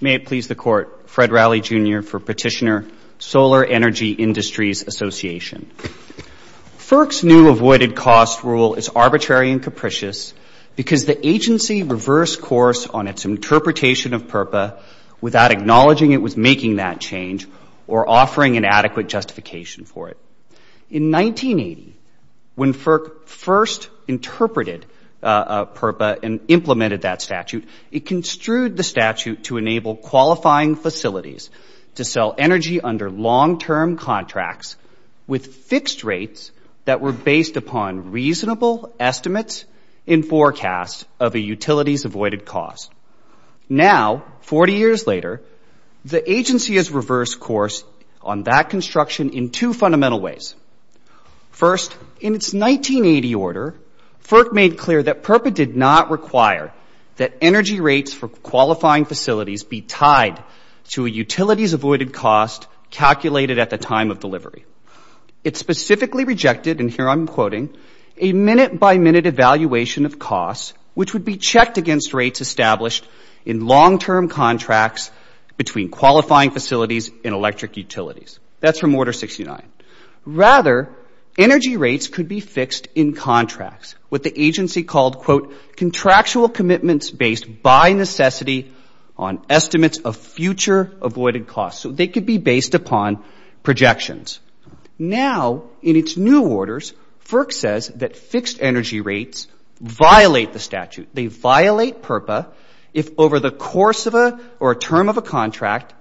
May it please the Court, Fred Rowley, Jr. for Petitioner, Solar Energy Industries Association. FERC's new avoided cost rule is arbitrary and capricious because the agency reversed course on its interpretation of PERPA without acknowledging it was making that change or offering an adequate justification for it. In 1980, when FERC first interpreted PERPA and implemented that statute, it construed the statute to enable qualifying facilities to sell energy under long-term contracts with fixed rates that were based upon reasonable estimates and forecasts of a utilities avoided cost. Now, 40 years later, the agency has reversed course on that construction in two fundamental ways. First, in its 1980 order, FERC made clear that PERPA did not require that energy rates for qualifying facilities be tied to a utilities avoided cost calculated at the time of delivery. It specifically rejected, and here I'm quoting, a minute-by-minute evaluation of costs which would be checked against rates established in long-term contracts between qualifying facilities and electric utilities. That's from Order 69. Rather, energy rates could be fixed in contracts, what the agency called, quote, contractual commitments based by necessity on estimates of future avoided costs. So they could be based upon projections. Now, in its new orders, FERC says that fixed energy rates violate the statute. They violate PERPA if over the course of a or a term of a contract,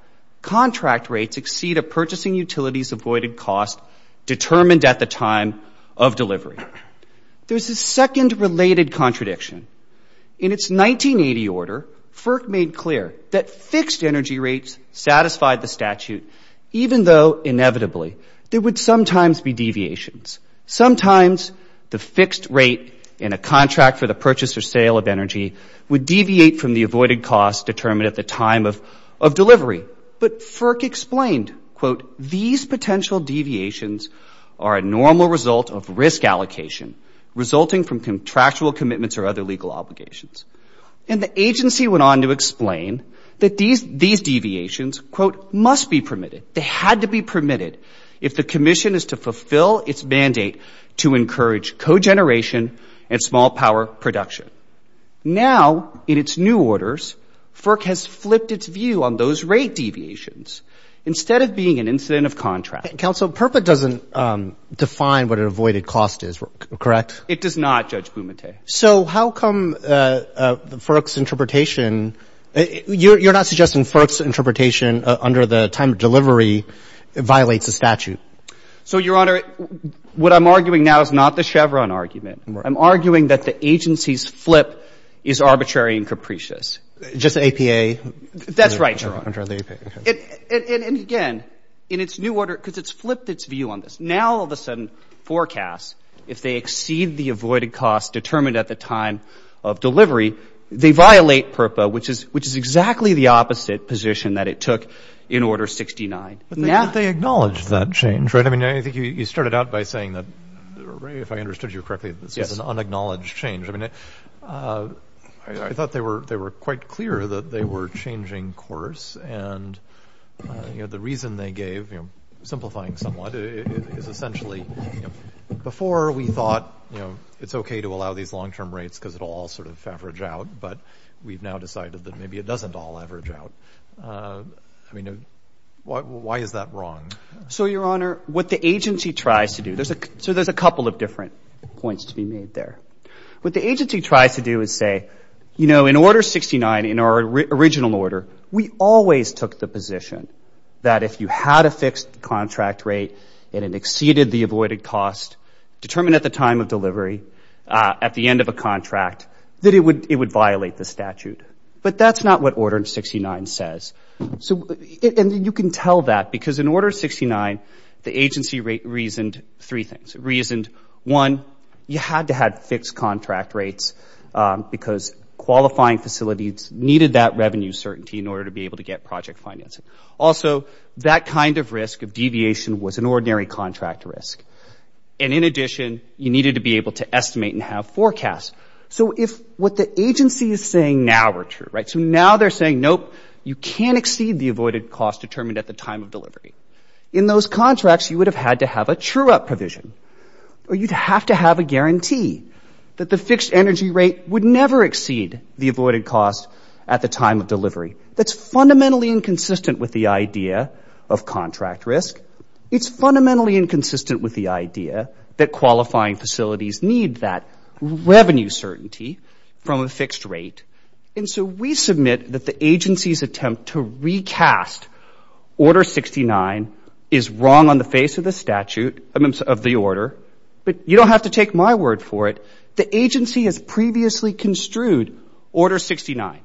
contract rates exceed a purchasing utility's avoided cost determined at the time of delivery. There's a second related contradiction. In its 1980 order, FERC made clear that fixed energy rates satisfied the statute even though inevitably there would sometimes be deviations. Sometimes the fixed rate in a contract for the purchase or sale of energy would deviate from the avoided cost determined at the time of delivery. But FERC explained, quote, these potential deviations are a normal result of risk allocation resulting from contractual commitments or other legal obligations. And the agency went on to explain that these deviations, quote, must be permitted. They had to be permitted if the commission is to fulfill its mandate to encourage co-generation and small power production. Now, in its new orders, FERC has flipped its view on those rate deviations instead of being an incident of contract. Roberts. Counsel, PERPA doesn't define what an avoided cost is, correct? It does not, Judge Bumate. So how come FERC's interpretation — you're not suggesting FERC's interpretation under the time of delivery violates the statute? So, Your Honor, what I'm arguing now is not the Chevron argument. I'm arguing that the agency's flip is arbitrary and capricious. Just APA? That's right, Your Honor. And again, in its new order — because it's flipped its view on this. Now, all of a sudden, forecasts, if they exceed the avoided cost determined at the time of delivery, they violate PERPA, which is exactly the opposite position that it took in Order 69. But they acknowledged that change, right? I mean, I think you started out by saying that, Ray, if I understood you correctly, this was an unacknowledged change. I mean, I thought they were quite clear that they were changing course. And, you know, the reason they gave, you know, simplifying somewhat, is essentially, before we thought, you know, it's okay to allow these long-term rates because it'll all sort of average out, but we've now decided that maybe it doesn't all average out. I mean, why is that wrong? So, Your Honor, what the agency tries to do — so there's a couple of different points to be made there. What the agency tries to do is say, you know, in Order 69, in our original order, we always took the position that if you had a fixed contract rate and it exceeded the avoided cost determined at the time of delivery, at the end of a contract, that it would violate the statute. But that's not what Order 69 says. So — and you can tell that because in Order 69, the agency reasoned three things. Reasoned, one, you had to have fixed contract rates because qualifying facilities needed that revenue certainty in order to be able to get project financing. Also, that kind of risk of deviation was an ordinary contract risk. And in addition, you needed to be able to estimate and have forecasts. So if what the agency is saying now were true, right, so now they're saying, nope, you can't exceed the avoided cost determined at the time of delivery. In those contracts, you would have had to have a true-up provision, or you'd have to have a guarantee that the fixed energy rate would never exceed the avoided cost at the time of delivery. That's fundamentally inconsistent with the idea of contract risk. It's fundamentally inconsistent with the idea that qualifying facilities need that revenue certainty from a fixed rate. And so we submit that the agency's attempt to recast Order 69 is wrong on the face of the statute — I mean, of the order. But you don't have to take my word for it. The agency has previously construed Order 69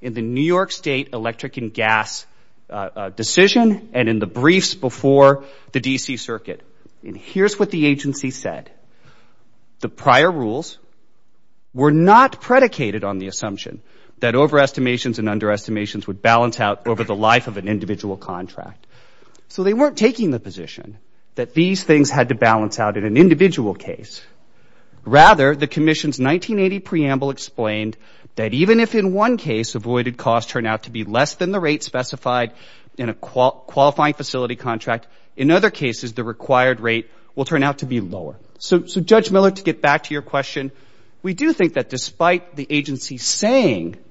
in the New York State electric and gas decision and in the briefs before the D.C. Circuit. And here's what the agency said. The prior rules were not predicated on the assumption that overestimations and underestimations would balance out over the life of an individual contract. So they weren't taking the position that these things had to balance out in an individual case. Rather, the Commission's 1980 preamble explained that even if in one case avoided costs turn out to be less than the rate specified in a qualifying facility contract, in other cases the required rate will turn out to be lower. So, Judge Miller, to get back to your question, we do think that despite the agency saying —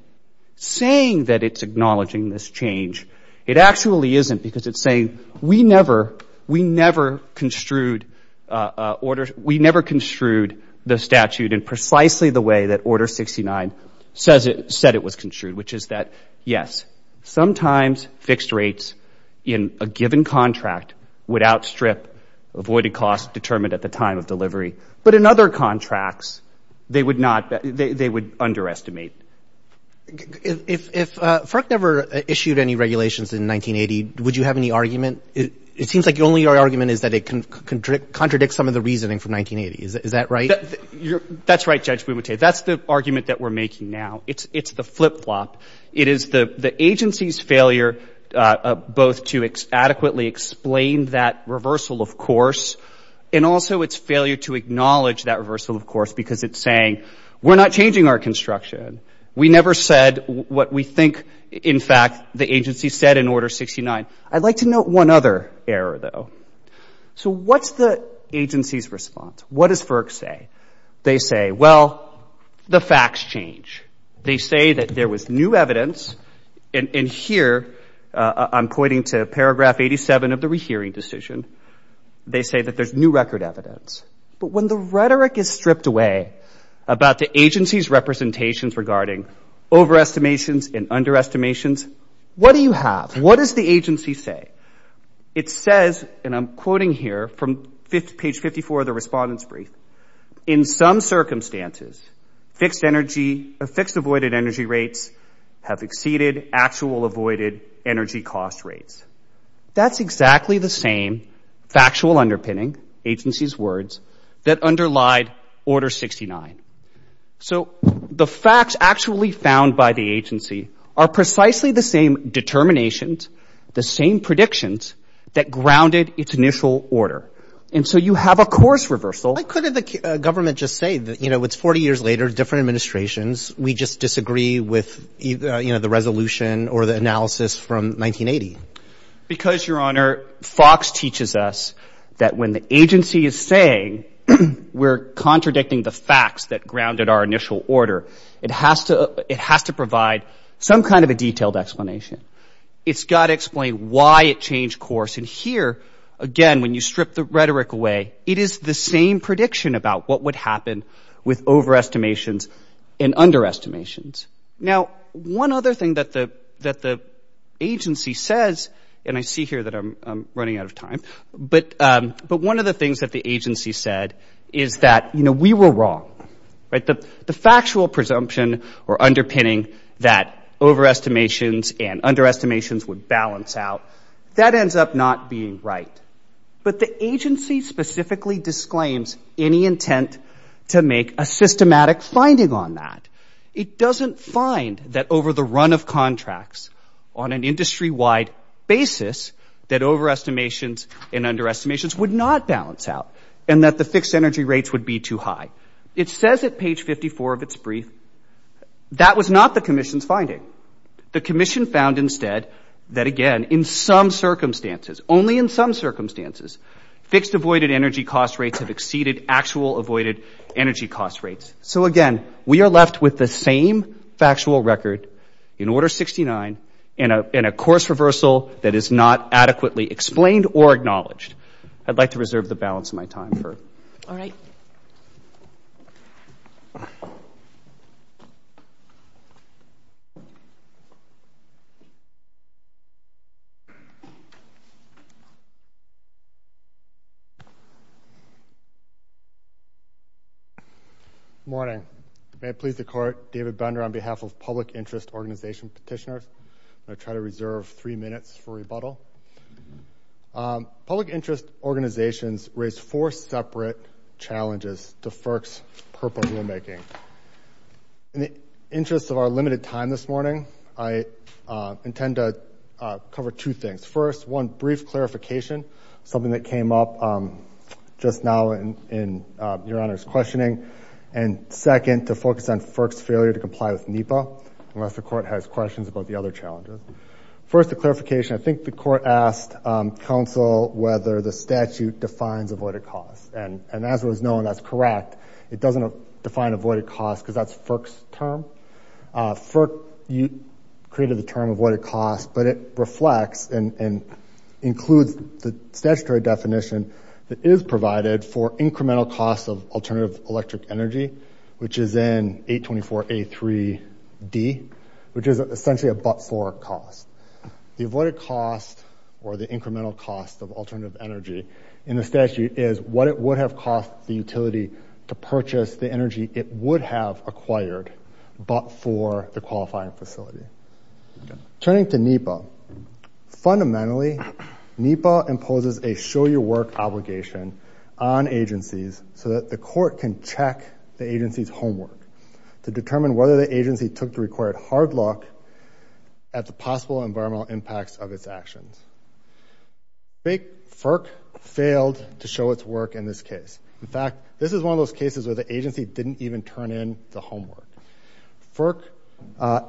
saying that it's acknowledging this change, it actually isn't because it's saying, we never — we never construed orders — we never construed the statute in precisely the way that Order 69 says it — said it was construed, which is that, yes, sometimes fixed rates in a given contract would outstrip avoided costs determined at the time of delivery. But in other contracts, they would not — they would underestimate. If FERC never issued any regulations in 1980, would you have any argument? It seems like your only argument is that it contradicts some of the reasoning from 1980. Is that right? That's right, Judge Bumate. That's the argument that we're making now. It's the flip-flop. It is the agency's failure both to adequately explain that reversal, of course, and also its failure to acknowledge that reversal, of course, because it's saying, we're not changing our construction. We never said what we think, in fact, the agency said in Order 69. I'd like to note one other error, though. So, what's the agency's response? What does FERC say? They say, well, the facts change. They say that there was new evidence, and here, I'm pointing to paragraph 87 of the rehearing decision. They say that there's new record evidence. But when the rhetoric is stripped away about the agency's representations regarding overestimations and underestimations, what do you have? What does the agency say? It says, and I'm quoting here from page 54 of the respondent's brief, in some circumstances, fixed-avoided energy rates have exceeded actual avoided energy cost rates. That's exactly the same factual underpinning, agency's words, that underlied Order 69. So, the facts actually found by the agency are precisely the same determinations, the same predictions, that grounded its initial order. And so, you have a course reversal. Why couldn't the government just say that, you know, it's 40 years later, different administrations, we just disagree with, you know, the resolution or the analysis from 1980? Because, Your Honor, Fox teaches us that when the agency is saying we're contradicting the facts that grounded our initial order, it has to provide some kind of a detailed explanation. It's got to explain why it changed course. And here, again, when you strip the rhetoric away, it is the same prediction about what would happen with overestimations and underestimations. Now, one other thing that the agency says, and I see here that I'm running out of time, but one of the things that the agency said is that, you know, we were wrong. Right? The factual presumption or underpinning that overestimations and underestimations would balance out, that ends up not being right. But the agency specifically disclaims any intent to make a systematic finding on that. It doesn't find that over the run of contracts on an industry-wide basis that overestimations and underestimations would not balance out and that the fixed energy rates would be too high. It says at page 54 of its brief, that was not the commission's finding. The commission found instead that, again, in some circumstances, only in some circumstances, fixed avoided energy cost rates have exceeded actual avoided energy cost rates. So, again, we are left with the same factual record in Order 69 in a course reversal that is not adequately explained or acknowledged. I'd like to reserve the balance of my time for... All right. David Bender. Morning. May it please the court, David Bender, on behalf of Public Interest Organization Petitioners. I'm going to try to reserve three minutes for rebuttal. Public interest organizations raise four separate challenges to FERC's purposeful rulemaking. In the interest of our limited time this morning, I intend to cover two things. First, one brief clarification, something that came up just now in Your Honor's questioning. And second, to focus on FERC's failure to comply with NEPA, unless the court has questions about the other challenger. First, a clarification. I think the court asked counsel whether the statute defines avoided cost. And as it was known, that's correct. It doesn't define avoided cost because that's FERC's term. FERC created the term avoided cost, but it reflects and includes the statutory definition that is provided for incremental cost of alternative electric energy, which is in 824A3D, which is essentially a but-for cost. The avoided cost or the incremental cost of alternative energy in the statute is what it would have cost the utility to purchase the energy it would have acquired, but for the qualifying facility. Turning to NEPA. Fundamentally, NEPA imposes a show-your-work obligation on agencies so that the court can check the agency's homework to determine whether the agency took the required hard look at the possible environmental impacts of its actions. FERC failed to show its work in this case. In fact, this is one of those cases where the agency didn't even turn in the homework. FERC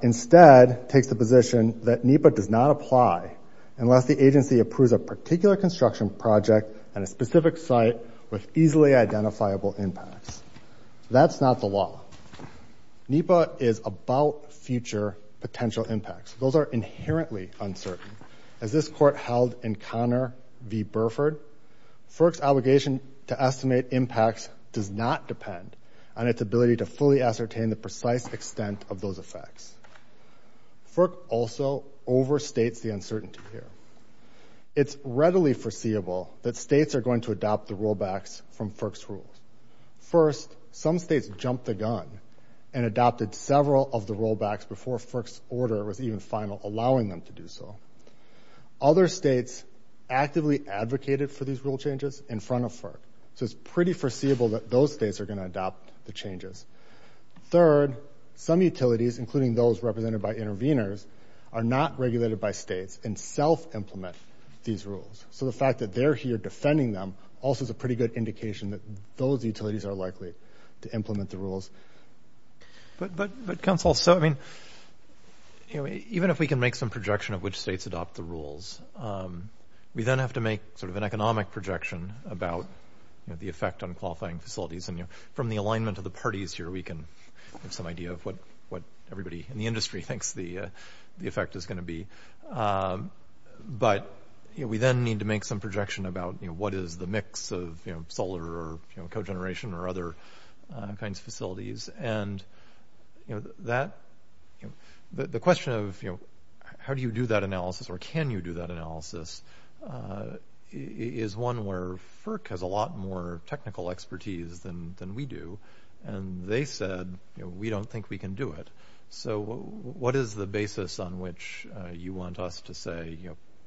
instead takes the position that NEPA does not apply unless the agency approves a particular construction project at a specific site with easily identifiable impacts. That's not the law. NEPA is about future potential impacts. Those are inherently uncertain. As this court held in Connor v. Burford, FERC's obligation to estimate impacts does not depend on its ability to fully ascertain the precise extent of those effects. FERC also overstates the uncertainty here. It's readily foreseeable that states are going to adopt the rollbacks from FERC's rules. First, some states jumped the gun and adopted several of the rollbacks before FERC's order was even final, allowing them to do so. Other states actively advocated for these rule changes in front of FERC, so it's pretty foreseeable that those states are going to adopt the changes. Third, some utilities, including those represented by intervenors, are not regulated by states and self-implement these rules. So the fact that they're here defending them also is a pretty good indication that those utilities are likely to implement the rules. But counsel, even if we can make some projection of which states adopt the rules, we then have to make sort of an economic projection about the effect on qualifying facilities. And from the alignment of the parties here, we can have some idea of what everybody in the industry thinks the effect is gonna be. But we then need to make some projection about what is the mix of solar or cogeneration or other kinds of facilities. And the question of how do you do that analysis or can you do that analysis is one where FERC has a lot more technical expertise than we do, and they said, we don't think we can do it. So what is the basis on which you want us to say,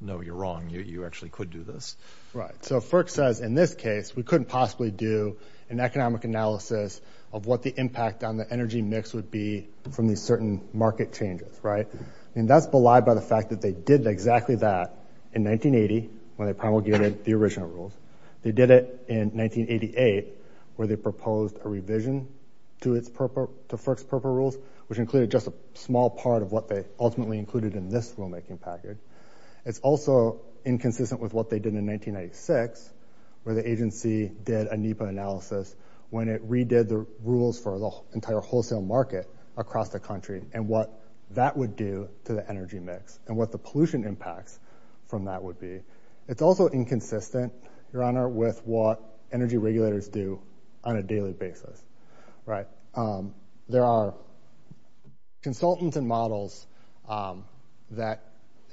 no, you're wrong, you actually could do this? Right, so FERC says, in this case, we couldn't possibly do an economic analysis of what the impact on the energy mix would be from these certain market changes, right? And that's belied by the fact that they did exactly that in 1980, when they promulgated the original rules. They did it in 1988, where they proposed a revision to FERC's purple rules, which included just a small part of what they ultimately included in this rulemaking package. It's also inconsistent with what they did in 1996, where the agency did a NEPA analysis when it redid the rules for the entire wholesale market across the country and what that would do to the energy mix and what the pollution impacts from that would be. It's also inconsistent, your honor, with what energy regulators do on a daily basis, right? There are consultants and models that,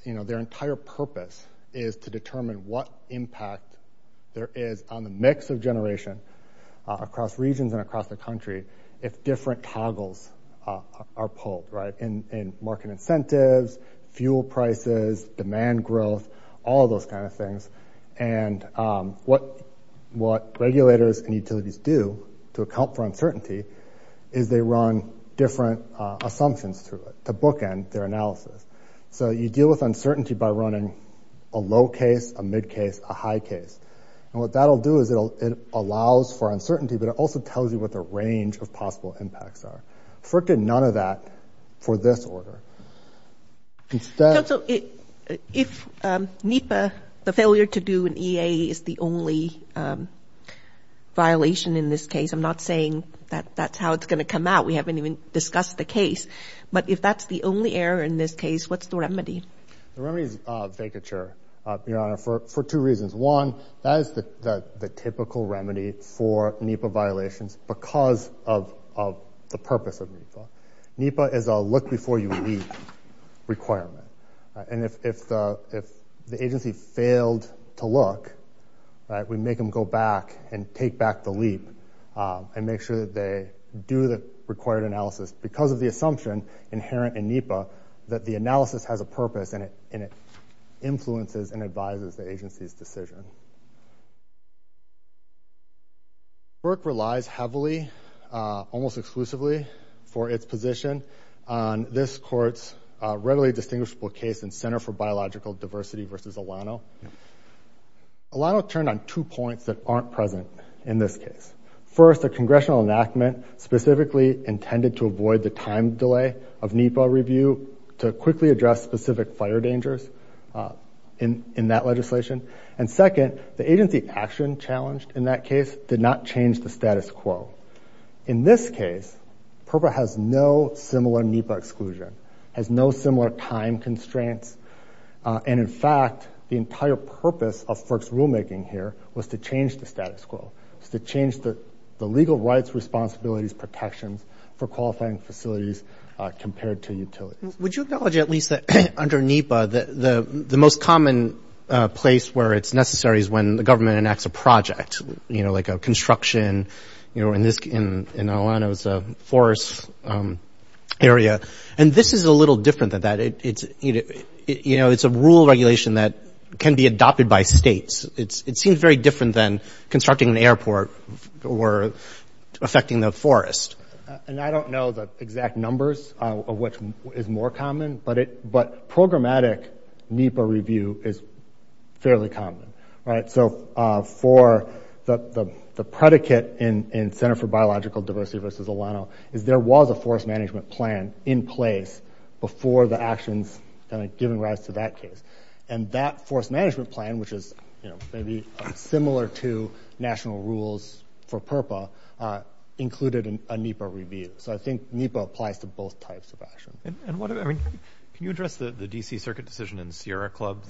you know, their entire purpose is to determine what impact there is on the mix of generation across regions and across the country if different toggles are pulled, right? In market incentives, fuel prices, demand growth, all those kind of things. And what regulators and utilities do to account for uncertainty is they run different assumptions through it to bookend their analysis. So you deal with uncertainty by running a low case, a mid case, a high case. And what that'll do is it allows for uncertainty, but it also tells you what the range of possible impacts are. Frickin' none of that for this order. Instead- So if NEPA, the failure to do an EA is the only violation in this case, I'm not saying that that's how it's gonna come out. We haven't even discussed the case. But if that's the only error in this case, what's the remedy? The remedy is vacature, your honor, for two reasons. One, that is the typical remedy for NEPA violations because of the purpose of NEPA. NEPA is a look-before-you-leap requirement. And if the agency failed to look, we make them go back and take back the leap and make sure that they do the required analysis because of the assumption inherent in NEPA that the analysis has a purpose and it influences and advises the agency's decision. Frickin' relies heavily, almost exclusively, for its position on this court's readily distinguishable case in Center for Biological Diversity versus Alano. Alano turned on two points that aren't present in this case. First, a congressional enactment specifically intended to avoid the time delay of NEPA review to quickly address specific fire dangers in that legislation. And second, a congressional enactment that agency action challenged in that case did not change the status quo. In this case, PERPA has no similar NEPA exclusion, has no similar time constraints. And in fact, the entire purpose of Frick's rulemaking here was to change the status quo, to change the legal rights, responsibilities, protections for qualifying facilities compared to utilities. Would you acknowledge at least that under NEPA, the most common place where it's necessary is when the government enacts a project, like a construction in Alano's forest area. And this is a little different than that. It's a rule regulation that can be adopted by states. It seems very different than constructing an airport or affecting the forest. And I don't know the exact numbers of what is more common, but programmatic NEPA review is fairly common, right? So for the predicate in Center for Biological Diversity versus Alano, is there was a forest management plan in place before the actions given rise to that case. And that forest management plan, which is maybe similar to national rules for PERPA, included a NEPA review. So I think NEPA applies to both types of action. And what, I mean, can you address the DC circuit decision in Sierra Club,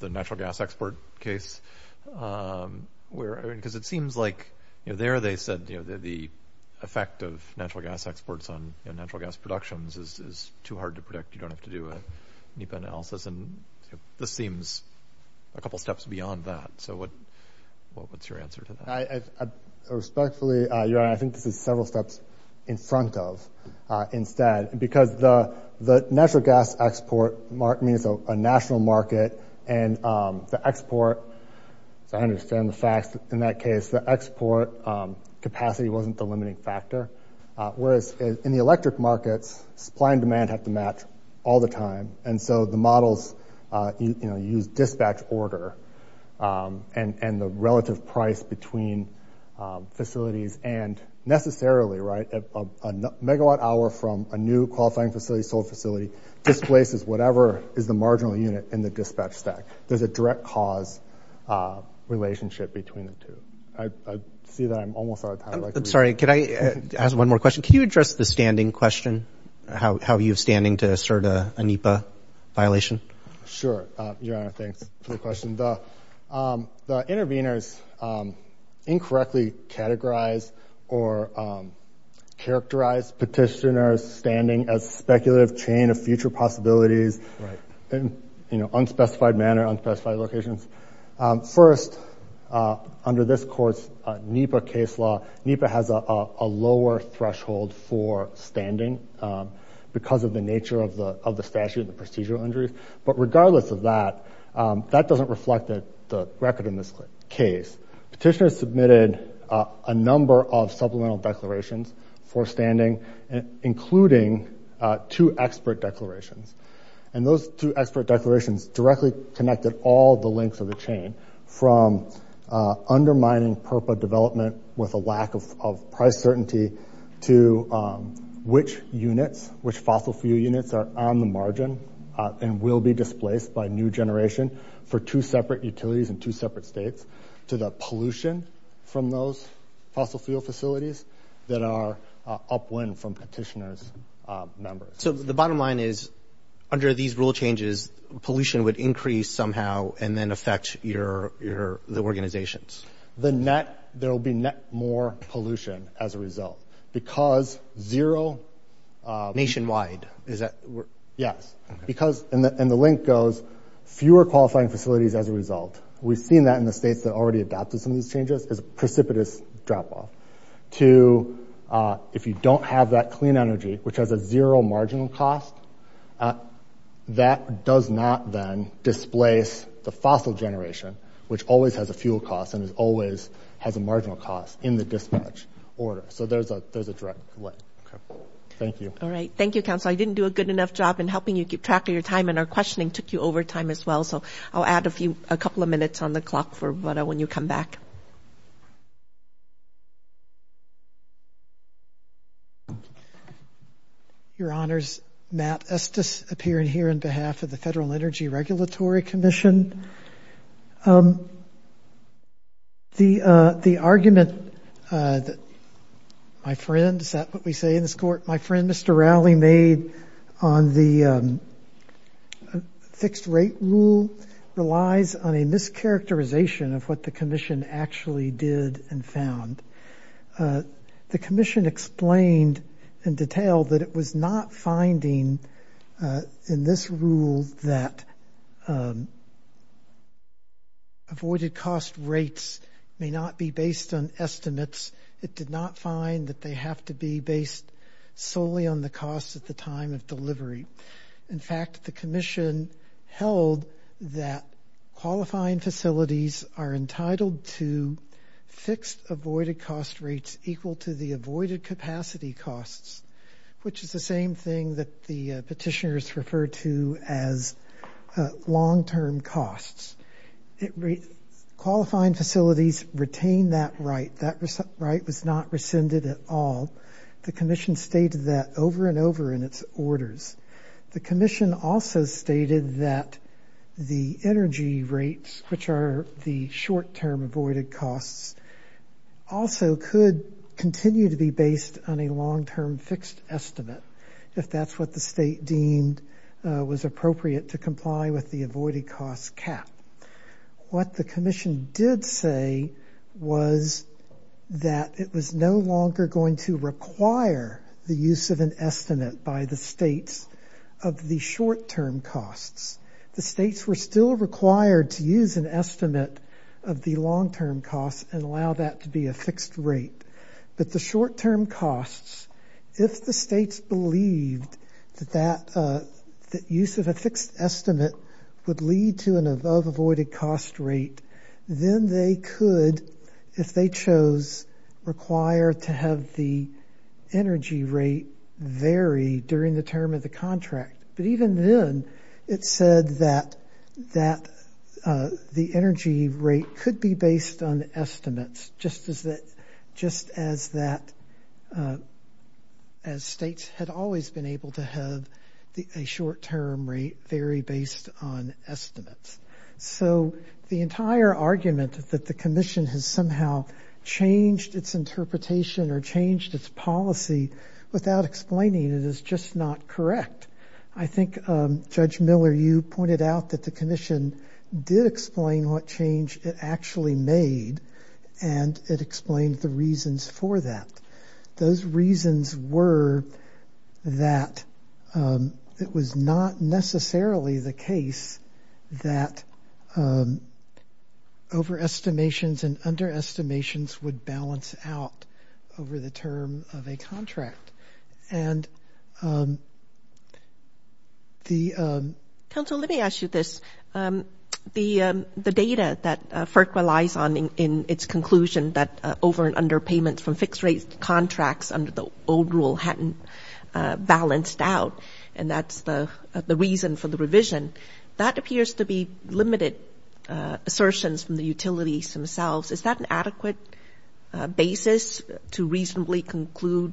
the natural gas export case? Where, I mean, because it seems like, you know, there they said, you know, the effect of natural gas exports on natural gas productions is too hard to predict. You don't have to do a NEPA analysis. And this seems a couple of steps beyond that. So what's your answer to that? Respectfully, I think this is several steps in front of, instead, because the natural gas export market, I mean, it's a national market and the export, so I understand the facts in that case, the export capacity wasn't the limiting factor. Whereas in the electric markets, supply and demand have to match all the time. And so the models, you know, use dispatch order and the relative price between facilities and necessarily, right, a megawatt hour from a new qualifying facility, sold facility, displaces whatever is the marginal unit in the dispatch stack. There's a direct cause relationship between the two. I see that I'm almost out of time. I'm sorry, can I ask one more question? Can you address the standing question? How are you standing to assert a NEPA violation? Sure, Your Honor, thanks for the question. The interveners incorrectly categorize or characterize petitioners' standing as speculative chain of future possibilities in unspecified manner, unspecified locations. First, under this court's NEPA case law, NEPA has a lower threshold for standing because of the nature of the statute and the procedural injuries. But regardless of that, that doesn't reflect the record in this case. Petitioners submitted a number of supplemental declarations for standing, including two expert declarations. And those two expert declarations directly connected all the links of the chain from undermining PURPA development with a lack of price certainty to which units, which fossil fuel units are on the margin and will be displaced by new generation for two separate utilities in two separate states, to the pollution from those fossil fuel facilities that are upwind from petitioners' numbers. So the bottom line is, under these rule changes, pollution would increase somehow and then affect the organizations. The net, there'll be net more pollution as a result because zero- Nationwide, is that? Yes. Because, and the link goes, fewer qualifying facilities as a result. We've seen that in the states that already adopted some of these changes as a precipitous drop-off. To, if you don't have that clean energy, which has a zero marginal cost, that does not then displace the fossil generation, which always has a fuel cost and always has a marginal cost in the dispatch order. So there's a direct way. Thank you. All right, thank you, Council. I didn't do a good enough job in helping you keep track of your time and our questioning took you over time as well. So I'll add a few, a couple of minutes on the clock for when you come back. Your Honors, Matt Estes appearing here on behalf of the Federal Energy Regulatory Commission. And the argument that my friend, is that what we say in this court? My friend, Mr. Rowley made on the fixed rate rule relies on a mischaracterization of what the commission actually did and found. The commission explained in detail that it was not finding in this rule that avoided cost rates may not be based on estimates. It did not find that they have to be based solely on the costs at the time of delivery. In fact, the commission held that qualifying facilities are entitled to fixed avoided cost rates equal to the avoided capacity costs, which is the same thing that the petitioners refer to as long-term costs. Qualifying facilities retain that right. That right was not rescinded at all. The commission stated that over and over in its orders. The commission also stated that the energy rates, which are the short-term avoided costs, also could continue to be based on a long-term fixed estimate. If that's what the state deemed was appropriate to comply with the avoided costs cap. What the commission did say was that it was no longer going to require the use of an estimate by the states of the short-term costs. The states were still required to use an estimate of the long-term costs and allow that to be a fixed rate. But the short-term costs, if the states believed that use of a fixed estimate would lead to an above avoided cost rate, then they could, if they chose, require to have the energy rate vary during the term of the contract. But even then, it said that the energy rate could be based on estimates, just as states had always been able to have a short-term rate vary based on estimates. So the entire argument that the commission has somehow changed its interpretation or changed its policy without explaining it is just not correct. I think Judge Miller, you pointed out that the commission did explain what change it actually made and it explained the reasons for that. Those reasons were that it was not necessarily the case that overestimations and underestimations would balance out over the term of a contract. And the- Council, let me ask you this. The data that FERC relies on in its conclusion that over and under payments from fixed rate contracts under the old rule hadn't balanced out, and that's the reason for the revision, that appears to be limited assertions from the utilities themselves. Is that an adequate basis to reasonably conclude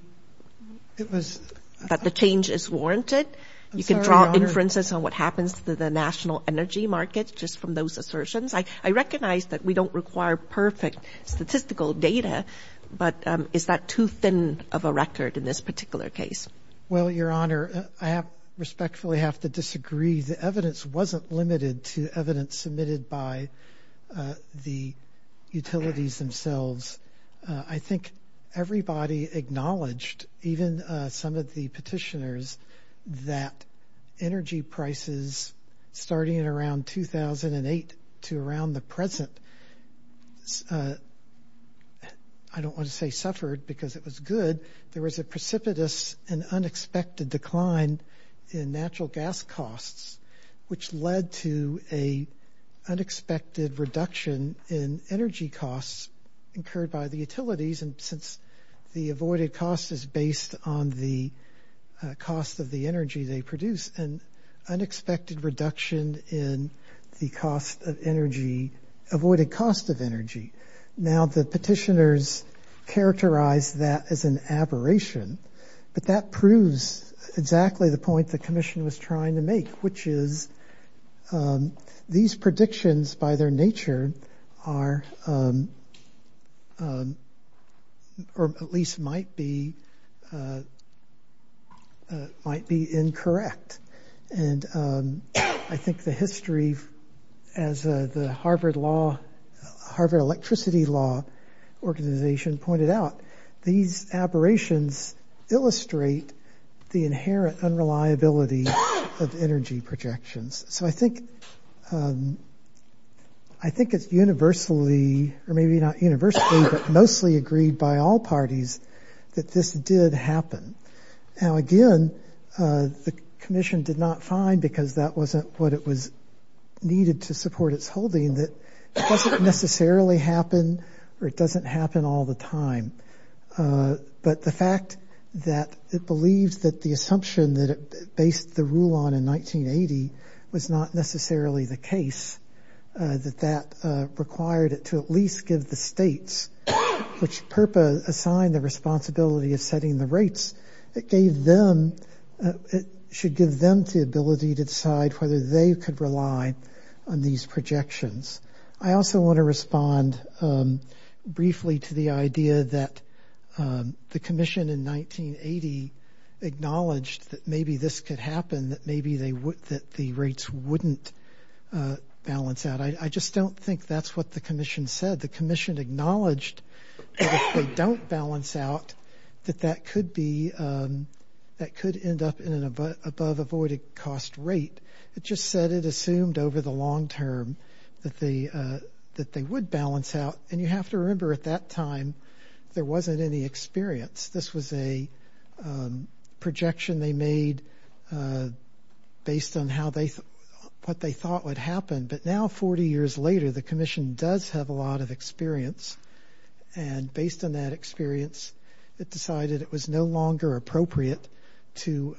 that the change is warranted? You can draw inferences on what happens to the national energy market just from those assertions. I recognize that we don't require perfect statistical data, but is that too thin of a record in this particular case? Well, Your Honor, I respectfully have to disagree. The evidence wasn't limited to evidence submitted by the utilities themselves. I think everybody acknowledged, even some of the petitioners, that energy prices starting in around 2008 to around the present, I don't want to say suffered because it was good. There was a precipitous and unexpected decline in natural gas costs, which led to a unexpected reduction in energy costs And since the avoided cost is based on the cost of the energy they produce, an unexpected reduction in the cost of energy, avoided cost of energy. Now the petitioners characterize that as an aberration, but that proves exactly the point the commission was trying to make, which is these predictions by their nature are, or at least might be, might be incorrect. And I think the history as the Harvard law, Harvard Electricity Law Organization pointed out, these aberrations illustrate the inherent unreliability of energy projections. So I think it's universally, or maybe not universally, but mostly agreed by all parties that this did happen. Now, again, the commission did not find because that wasn't what it was needed to support its holding, that it doesn't necessarily happen or it doesn't happen all the time. But the fact that it believes that the assumption that it based the rule on in 1980 was not necessarily the case, that that required it to at least give the states, which purpose assigned the responsibility of setting the rates that gave them, it should give them the ability to decide whether they could rely on these projections. I also want to respond briefly to the idea that the commission in 1980 acknowledged that maybe this could happen, that maybe they would, that the rates wouldn't balance out. I just don't think that's what the commission said. The commission acknowledged that if they don't balance out, that that could be, that could end up in an above avoided cost rate. It just said it assumed over the longterm that they would balance out. And you have to remember at that time, there wasn't any experience. This was a projection they made based on what they thought would happen. But now 40 years later, the commission does have a lot of experience. And based on that experience, it decided it was no longer appropriate to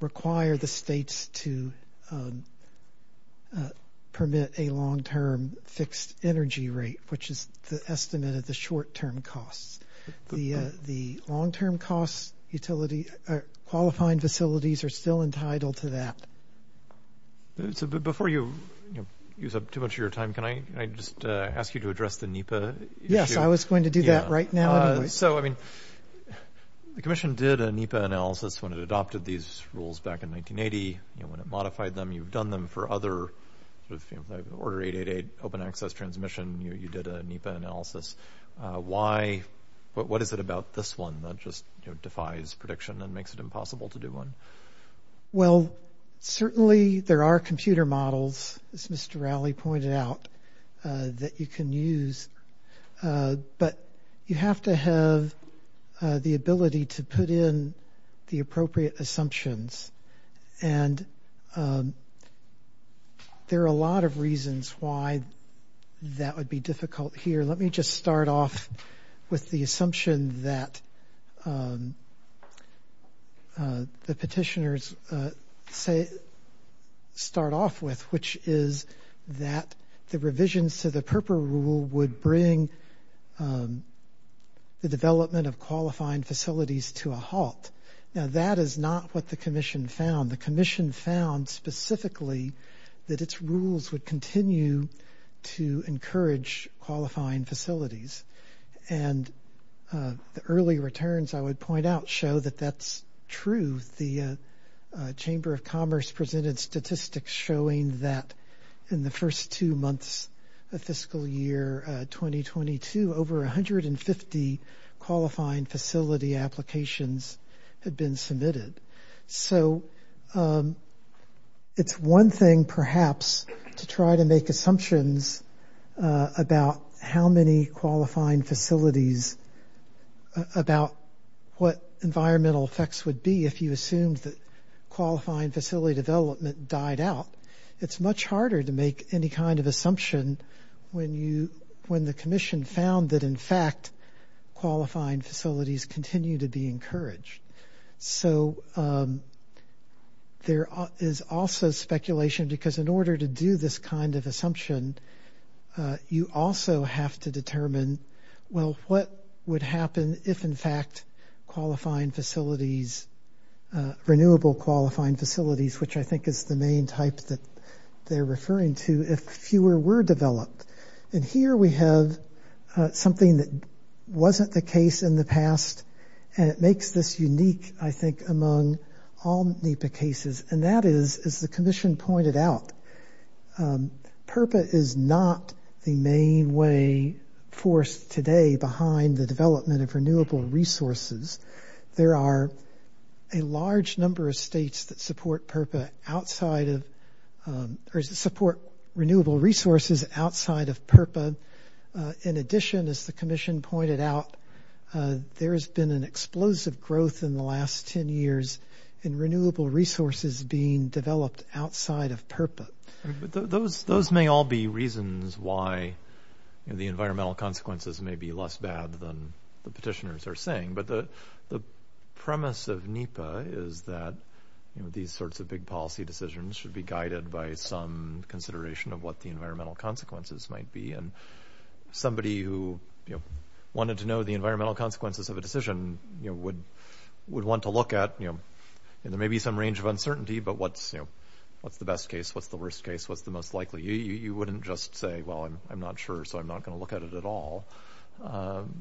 require the states to permit a longterm fixed energy rate, which is the estimate of the short term costs. The longterm costs utility, qualifying facilities are still entitled to that. Before you use up too much of your time, can I just ask you to address the NEPA? Yes, I was going to do that right now. So I mean, the commission did a NEPA analysis when it adopted these rules back in 1980. You know, when it modified them, you've done them for other order 888, open access transmission. You did a NEPA analysis. What is it about this one that just defies prediction and makes it impossible to do one? Well, certainly there are computer models, as Mr. Rowley pointed out, that you can use. But you have to have the ability to put in the appropriate assumptions. And there are a lot of reasons why that would be difficult here. Let me just start off with the assumption that the petitioners say, start off with, which is that the revisions to the PURPA rule would bring the development of qualifying facilities to a halt. Now, that is not what the commission found. The commission found specifically that its rules would continue to encourage qualifying facilities. And the early returns, I would point out, show that that's true. The Chamber of Commerce presented statistics showing that in the first two months of fiscal year 2022, over 150 qualifying facility applications had been submitted. So it's one thing, perhaps, to try to make assumptions about how many qualifying facilities, about what environmental effects would be if you assumed that qualifying facility development died out. It's much harder to make any kind of assumption when the commission found that, in fact, qualifying facilities continue to be encouraged. So there is also speculation, because in order to do this kind of assumption, you also have to determine, well, what would happen if, in fact, qualifying facilities, renewable qualifying facilities, which I think is the main type that they're referring to, if fewer were developed. And here we have something that wasn't the case in the past, and it makes this unique, I think, among all NEPA cases. And that is, as the commission pointed out, PURPA is not the main way forced today behind the development of renewable resources. There are a large number of states that support PURPA outside of, or support renewable resources outside of PURPA. In addition, as the commission pointed out, there has been an explosive growth in the last 10 years in renewable resources being developed outside of PURPA. But those may all be reasons why the environmental consequences may be less bad than the petitioners are saying. But the premise of NEPA is that these sorts of big policy decisions should be guided by some consideration of what the environmental consequences might be. And somebody who wanted to know the environmental consequences of a decision would want to look at, and there may be some range of uncertainty, but what's the best case, what's the worst case, what's the most likely? You wouldn't just say, well, I'm not sure, so I'm not gonna look at it at all.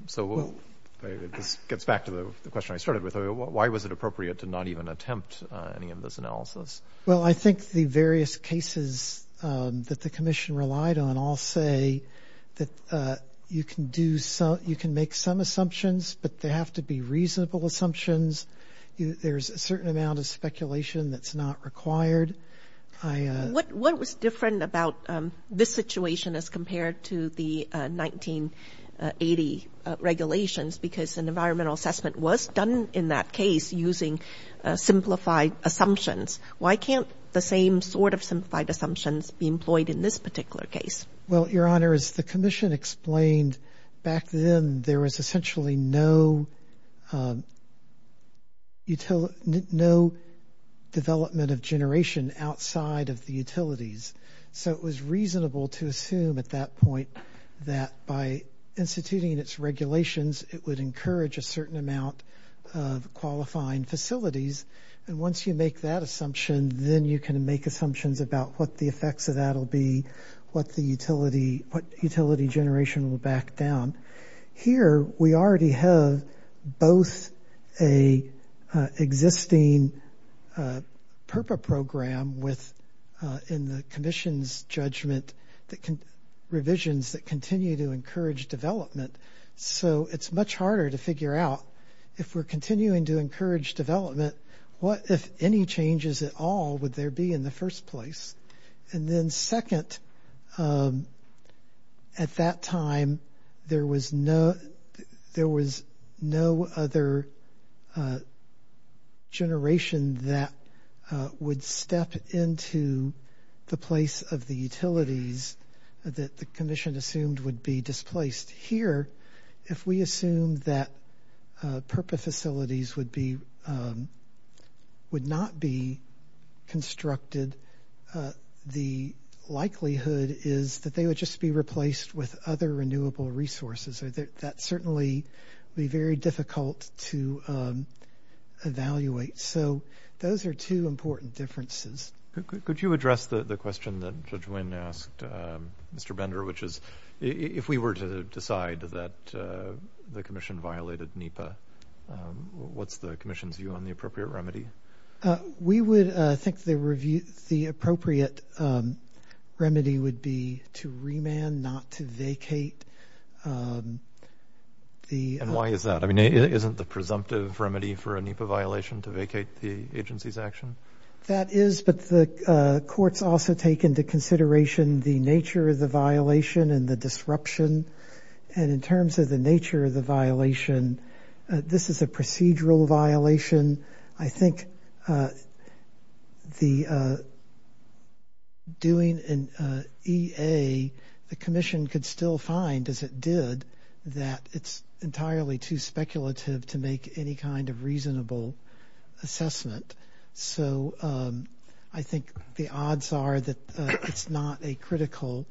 So this gets back to the question I started with. Why was it appropriate to not even attempt any of this analysis? Well, I think the various cases that the commission relied on all say that you can make some assumptions, but they have to be reasonable assumptions. There's a certain amount of speculation that's not required. What was different about this situation as compared to the 1980 regulations? Because an environmental assessment was done in that case using simplified assumptions. Why can't the same sort of simplified assumptions be employed in this particular case? Well, Your Honor, as the commission explained, back then there was essentially no development of generation outside of the utilities. So it was reasonable to assume at that point that by instituting its regulations, it would encourage a certain amount of qualifying facilities. And once you make that assumption, then you can make assumptions about what the effects of that will be, what utility generation will back down. Here, we already have both a existing PURPA program in the commission's judgment, revisions that continue to encourage development. So it's much harder to figure out if we're continuing to encourage development, what, if any changes at all, would there be in the first place? And then second, at that time there was no other generation that would step into the place of the utilities that the commission assumed would be displaced. Here, if we assume that PURPA facilities would not be constructed, the likelihood is that they would just be replaced with other renewable resources. That certainly would be very difficult to evaluate. So those are two important differences. Could you address the question that Judge Wynn asked Mr. Bender, which is, if we were to decide that the commission violated NEPA, what's the commission's view on the appropriate remedy? We would think the appropriate remedy would be to remand, not to vacate. And why is that? I mean, isn't the presumptive remedy for a NEPA violation to vacate the agency's action? That is, but the courts also take into consideration the nature of the violation and the disruption. And in terms of the nature of the violation, this is a procedural violation. I think doing an EA, the commission could still find, as it did, that it's entirely too speculative to make any kind of reasonable assessment. So I think the odds are that it's not a critical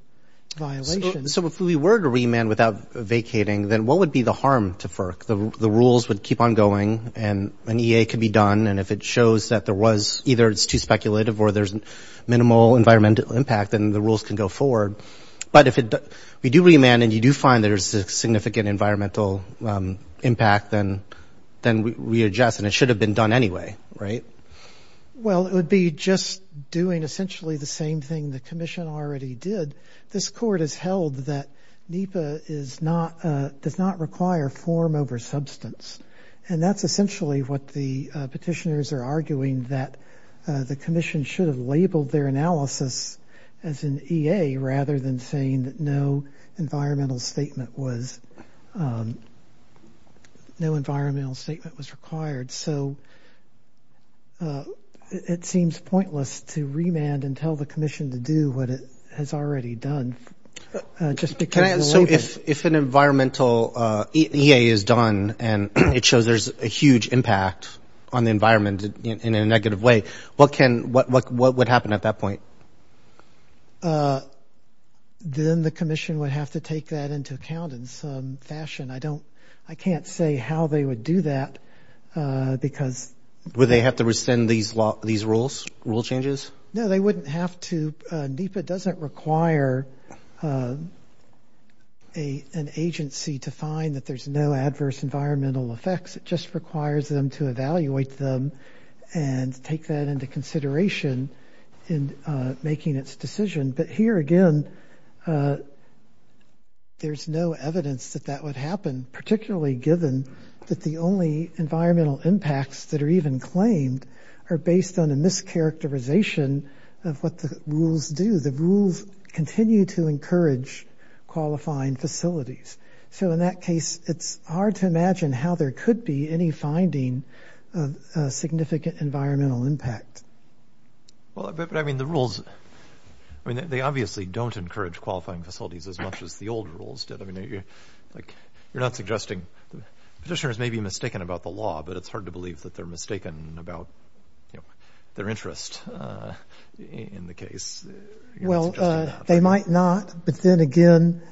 violation. So if we were to remand without vacating, then what would be the harm to FERC? The rules would keep on going and an EA could be done. And if it shows that there was, either it's too speculative or there's minimal environmental impact, then the rules can go forward. But if we do remand and you do find there's a significant environmental impact, then we adjust and it should have been done anyway, right? Well, it would be just doing essentially the same thing the commission already did. This court has held that NEPA does not require form over substance. And that's essentially what the petitioners are arguing, that the commission should have labeled their analysis as an EA rather than saying that no environmental statement was, no environmental statement was required. So it seems pointless to remand and tell the commission to do what it has already done. Just because- So if an environmental EA is done and it shows there's a huge impact on the environment in a negative way, what can, what would happen at that point? Then the commission would have to take that into account in some fashion. I don't, I can't say how they would do that because- Would they have to rescind these rules, rule changes? No, they wouldn't have to. NEPA doesn't require an agency to find that there's no adverse environmental effects. It just requires them to evaluate them and take that into consideration in making its decision. But here again, there's no evidence that that would happen, particularly given that the only environmental impacts that are even claimed are based on a mischaracterization of what the rules do. The rules continue to encourage qualifying facilities. So in that case, it's hard to imagine how there could be any finding of a significant environmental impact. Well, but I mean, the rules, I mean, they obviously don't encourage qualifying facilities as much as the old rules did. I mean, like you're not suggesting, petitioners may be mistaken about the law, but it's hard to believe that they're mistaken about their interest in the case. Well, they might not, but then again,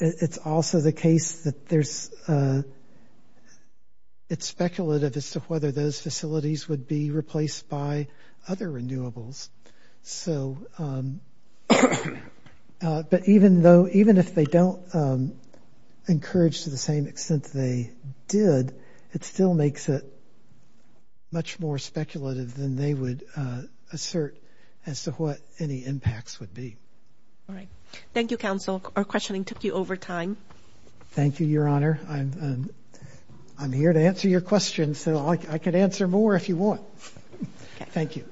it's also the case that there's, it's speculative as to whether those facilities would be replaced by other renewables. So, but even though, even if they don't encourage to the same extent they did, it still makes it much more speculative than they would assert as to what any impacts would be. All right. Thank you, counsel. Our questioning took you over time. Thank you, your honor. I'm here to answer your question. And so I could answer more if you want. Thank you.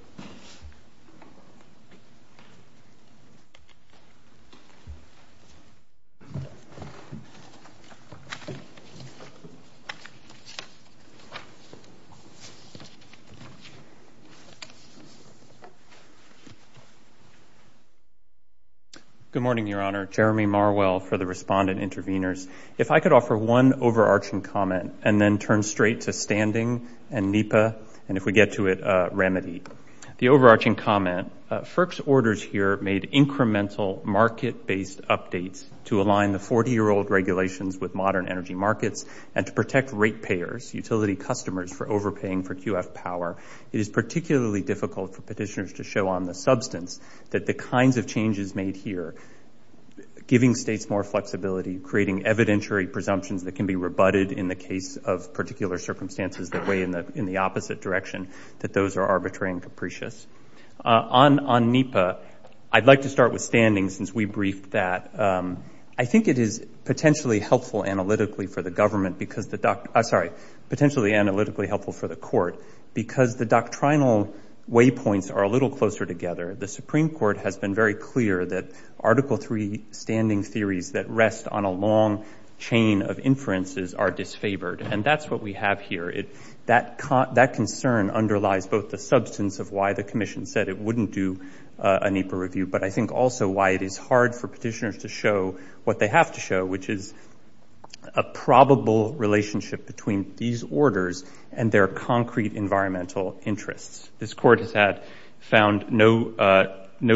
Good morning, your honor. Jeremy Marwell for the respondent intervenors. If I could offer one overarching comment and then turn straight to standing and NEPA, and if we get to it, remedy. The overarching comment, FERC's orders here made incremental market-based updates to align the 40-year-old regulations with modern energy markets and to protect rate payers, utility customers for overpaying for QF power. It is particularly difficult for petitioners to show on the substance that the kinds of changes made here, giving states more flexibility, creating evidentiary presumptions that can be rebutted in the case of particular circumstances that weigh in the opposite direction, that those are arbitrary and capricious. On NEPA, I'd like to start with standing since we briefed that. I think it is potentially helpful analytically for the government because the, I'm sorry, potentially analytically helpful for the court because the doctrinal waypoints are a little closer together. The Supreme Court has been very clear that Article III standing theories that rest on a long chain of inferences are disfavored. And that's what we have here. That concern underlies both the substance of why the commission said it wouldn't do a NEPA review, but I think also why it is hard for petitioners to show what they have to show, which is a probable relationship between these orders and their concrete environmental interests. This court has had found no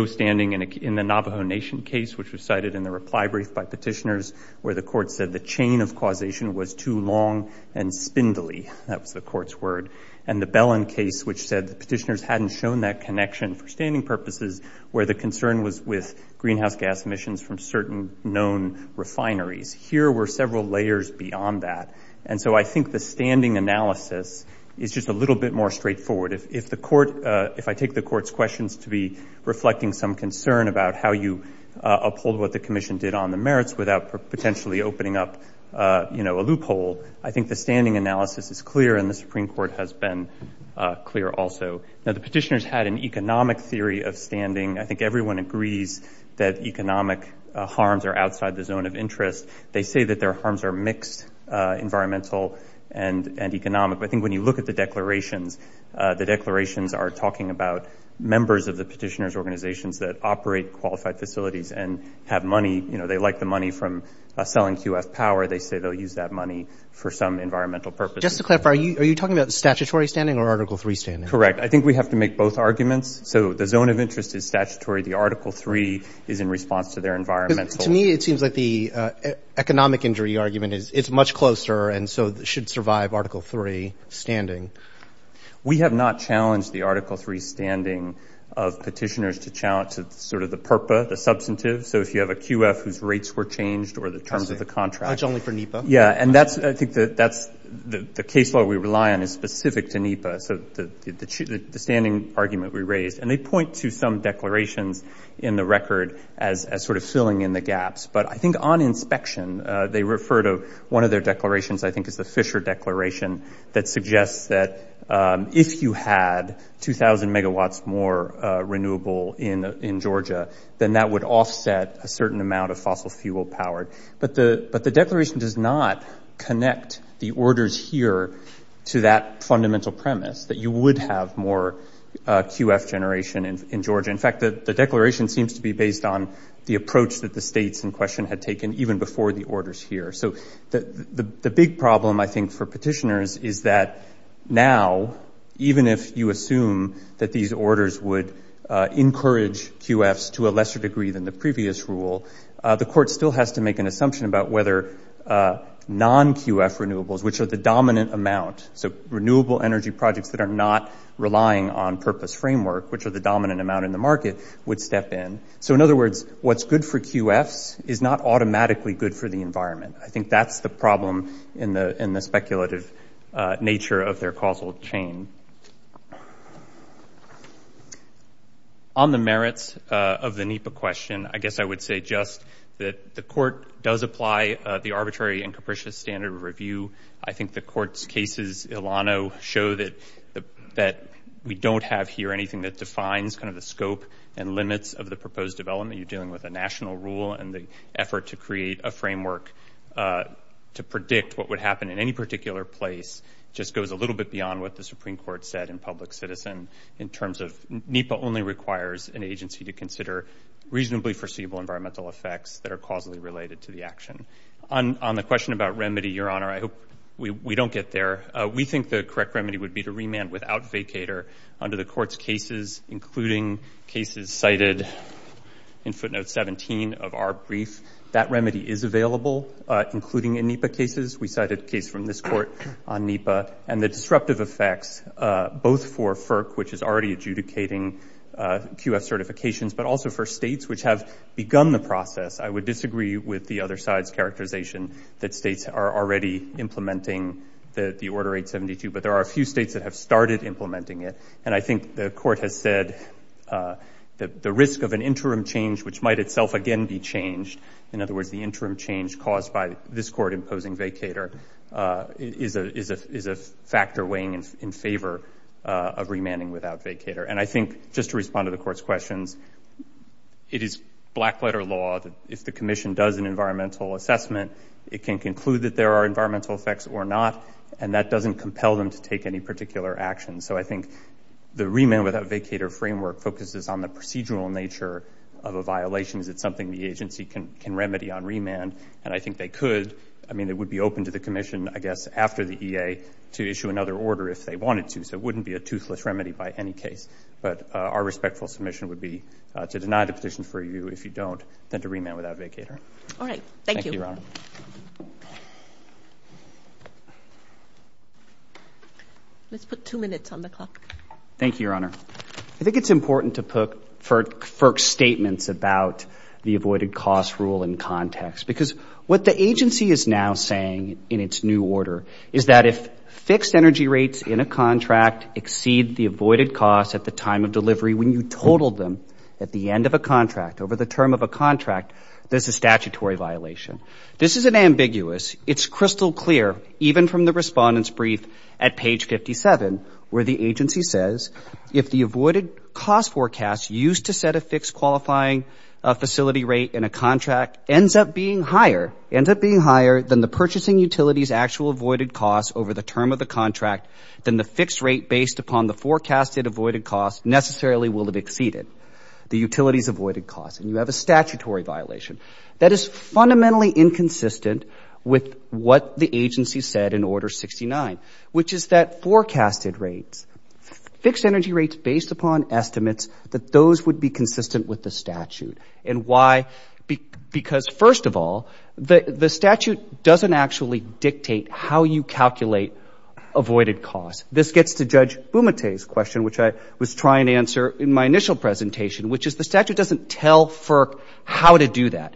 standing in the Navajo Nation case, which was cited in the reply brief by petitioners, where the court said the chain of causation was too long and spindly. That was the court's word. And the Bellin case, which said the petitioners hadn't shown that connection for standing purposes, where the concern was with greenhouse gas emissions from certain known refineries. Here were several layers beyond that. And so I think the standing analysis is just a little bit more straightforward. If I take the court's questions to be reflecting some concern about how you uphold what the commission did on the merits without potentially opening up a loophole, I think the standing analysis is clear and the Supreme Court has been clear also. Now, the petitioners had an economic theory of standing. I think everyone agrees that economic harms are outside the zone of interest. They say that their harms are mixed, environmental and economic. But I think when you look at the declarations, the declarations are talking about members of the petitioners' organizations that operate qualified facilities and have money, you know, they like the money from selling QF power. They say they'll use that money for some environmental purpose. Just to clarify, are you talking about statutory standing or Article III standing? Correct, I think we have to make both arguments. So the zone of interest is statutory. The Article III is in response to their environmental. To me, it seems like the economic injury argument is it's much closer and so should survive Article III standing. We have not challenged the Article III standing of petitioners to challenge sort of the purpa, the substantive. So if you have a QF whose rates were changed or the terms of the contract. Judge only for NEPA. Yeah, and I think that's the case law we rely on is specific to NEPA. So the standing argument we raised, and they point to some declarations in the record as sort of filling in the gaps. But I think on inspection, they refer to one of their declarations, I think it's the Fisher Declaration, that suggests that if you had 2,000 megawatts more renewable in Georgia, then that would offset a certain amount of fossil fuel power. But the declaration does not connect the orders here to that fundamental premise, that you would have more QF generation in Georgia. In fact, the declaration seems to be based on the approach that the states in question had taken even before the orders here. So the big problem, I think, for petitioners is that now, even if you assume that these orders would encourage QFs to a lesser degree than the previous rule, the court still has to make an assumption about whether non-QF renewables, which are the dominant amount, so renewable energy projects that are not relying on purpose framework, which are the dominant amount in the market, would step in. So in other words, what's good for QFs is not automatically good for the environment. I think that's the problem in the speculative nature of their causal chain. On the merits of the NEPA question, I guess I would say just that the court does apply the arbitrary and capricious standard of review. I think the court's cases, Ilano, show that we don't have here anything that defines kind of the scope and limits of the proposed development. You're dealing with a national rule and the effort to create a framework to predict what would happen in any particular place just goes a little bit beyond what the Supreme Court said in Public Citizen in terms of NEPA only requires an agency to consider reasonably foreseeable environmental effects that are causally related to the action. On the question about remedy, Your Honor, I hope we don't get there. We think the correct remedy would be to remand without vacator under the court's cases, including cases cited in footnote 17 of our brief. That remedy is available, including in NEPA cases. We cited a case from this court on NEPA and the disruptive effects, both for FERC, which is already adjudicating QF certifications, but also for states which have begun the process. I would disagree with the other side's characterization that states are already implementing the Order 872, but there are a few states that have started implementing it. And I think the court has said that the risk of an interim change, which might itself again be changed, in other words, the interim change caused by this court imposing vacator, is a factor weighing in favor of remanding without vacator. And I think, just to respond to the court's questions, it is black letter law that if the commission does an environmental assessment, it can conclude that there are environmental effects or not, and that doesn't compel them to take any particular action. So I think the remand without vacator framework focuses on the procedural nature of a violation. Is it something the agency can remedy on remand? And I think they could. I mean, it would be open to the commission, I guess, after the EA to issue another order if they wanted to. So it wouldn't be a toothless remedy by any case. But our respectful submission would be to deny the petition for review if you don't, then to remand without vacator. All right, thank you. Thank you, Your Honor. Let's put two minutes on the clock. Thank you, Your Honor. I think it's important to put FERC statements about the avoided cost rule in context, because what the agency is now saying in its new order is that if fixed energy rates in a contract exceed the avoided costs at the time of delivery when you totaled them at the end of a contract, over the term of a contract, this is a statutory violation. This isn't ambiguous. It's crystal clear. Even from the respondent's brief at page 57, where the agency says, if the avoided cost forecast used to set a fixed qualifying facility rate in a contract ends up being higher, ends up being higher than the purchasing utility's actual avoided costs over the term of the contract, then the fixed rate based upon the forecasted avoided costs necessarily will have exceeded the utility's avoided costs. And you have a statutory violation. That is fundamentally inconsistent with what the agency said in Order 69, which is that forecasted rates, fixed energy rates based upon estimates, that those would be consistent with the statute. And why? Because first of all, the statute doesn't actually dictate how you calculate avoided costs. This gets to Judge Bumate's question, which I was trying to answer in my initial presentation, which is the statute doesn't tell FERC how to do that.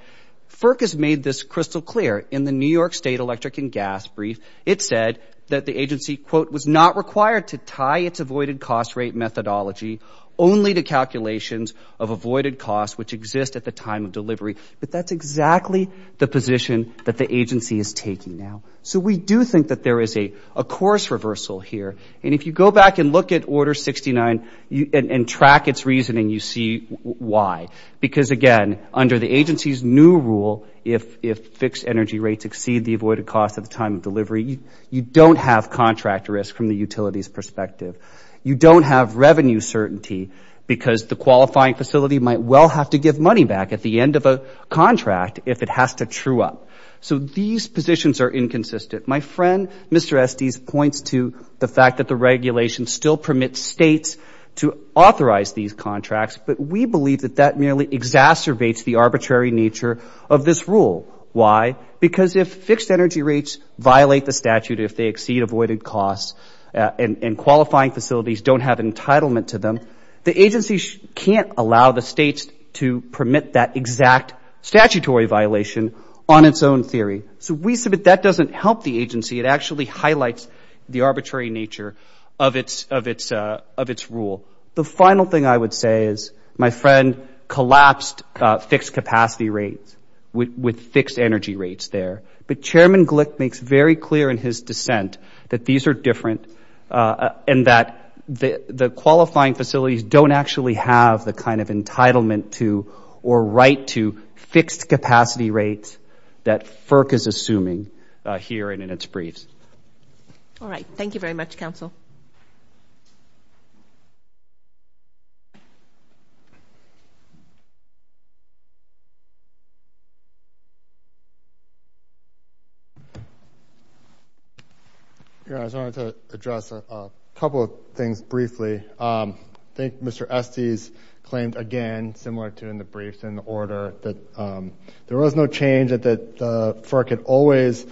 FERC has made this crystal clear. In the New York State Electric and Gas brief, it said that the agency, quote, was not required to tie its avoided cost rate methodology only to calculations of avoided costs, which exist at the time of delivery. But that's exactly the position that the agency is taking now. So we do think that there is a course reversal here. And if you go back and look at Order 69 and track its reasoning, you see why. Because again, under the agency's new rule, if fixed energy rates exceed the avoided cost at the time of delivery, you don't have contract risk from the utility's perspective. You don't have revenue certainty because the qualifying facility might well have to give money back at the end of a contract if it has to true up. So these positions are inconsistent. My friend, Mr. Estes, points to the fact that the regulation still permits states to authorize these contracts, but we believe that that merely exacerbates the arbitrary nature of this rule. Why? Because if fixed energy rates violate the statute, if they exceed avoided costs, and qualifying facilities don't have entitlement to them, the agency can't allow the states to permit that exact statutory violation on its own theory. So we submit that doesn't help the agency. It actually highlights the arbitrary nature of its rule. The final thing I would say is, my friend collapsed fixed capacity rates with fixed energy rates there. But Chairman Glick makes very clear in his dissent that these are different and that the qualifying facilities don't actually have the kind of entitlement to or right to fixed capacity rates that FERC is assuming here and in its briefs. All right, thank you very much, counsel. Thank you. Yeah, I just wanted to address a couple of things briefly. I think Mr. Estes claimed again, similar to in the briefs in the order that there was no change that the FERC had always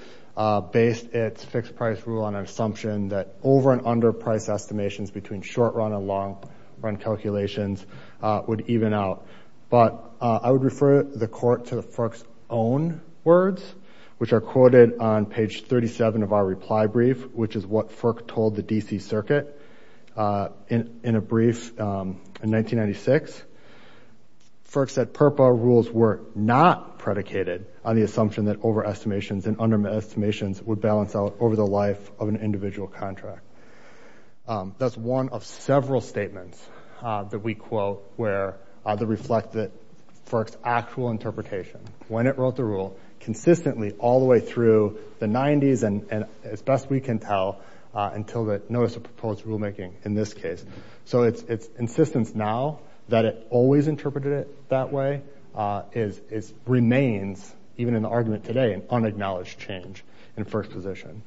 based its fixed price rule on an assumption that over and under price estimations between short run and long run calculations would even out. But I would refer the court to the FERC's own words, which are quoted on page 37 of our reply brief, which is what FERC told the DC Circuit in a brief in 1996. FERC said PURPA rules were not predicated on the assumption that over estimations and under estimations would balance out over the life of an individual contract. That's one of several statements that we quote where the reflected FERC's actual interpretation when it wrote the rule consistently all the way through the 90s and as best we can tell until the notice of proposed rulemaking in this case. So it's insistence now that it always interpreted it that way remains even in the argument today an unacknowledged change in FERC's position.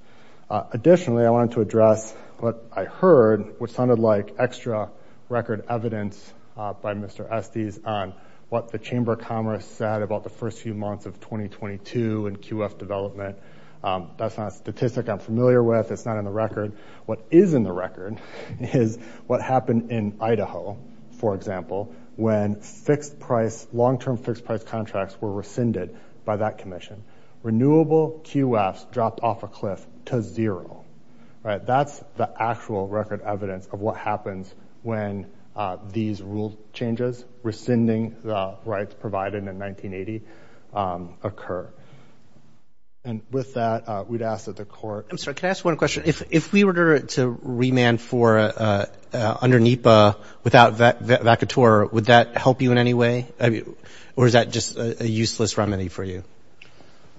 Additionally, I wanted to address what I heard, which sounded like extra record evidence by Mr. Estes on what the Chamber of Commerce said about the first few months of 2022 and QF development. That's not a statistic I'm familiar with, it's not in the record. What is in the record is what happened in Idaho, for example, when fixed price, long-term fixed price contracts were rescinded by that commission. Renewable QFs dropped off a cliff to zero, right? That's the actual record evidence of what happens when these rule changes rescinding the rights provided in 1980 occur. And with that, we'd ask that the court. I'm sorry, can I ask one question? If we were to remand for under NEPA without vacatur, would that help you in any way? Or is that just a useless remedy for you?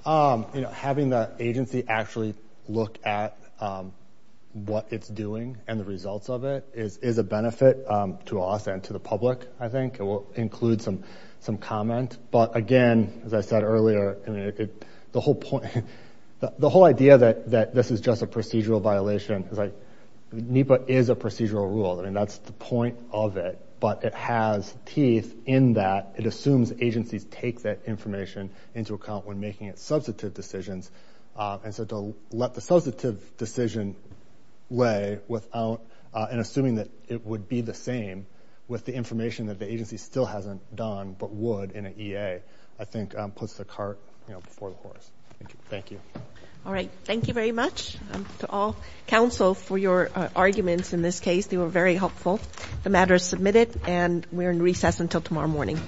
Having the agency actually look at what it's doing and the results of it is a benefit to us and to the public, I think. It will include some comment. But again, as I said earlier, the whole idea that this is just a procedural violation, it's like NEPA is a procedural rule. I mean, that's the point of it, but it has teeth in that it assumes agencies take that information into account when making its substantive decisions. And so to let the substantive decision lay without, and assuming that it would be the same with the information that the agency still hasn't done, but would in an EA, I think puts the cart before the horse. Thank you. All right, thank you very much to all counsel for your arguments in this case. They were very helpful. The matter is submitted and we're in recess until tomorrow morning. Thank you.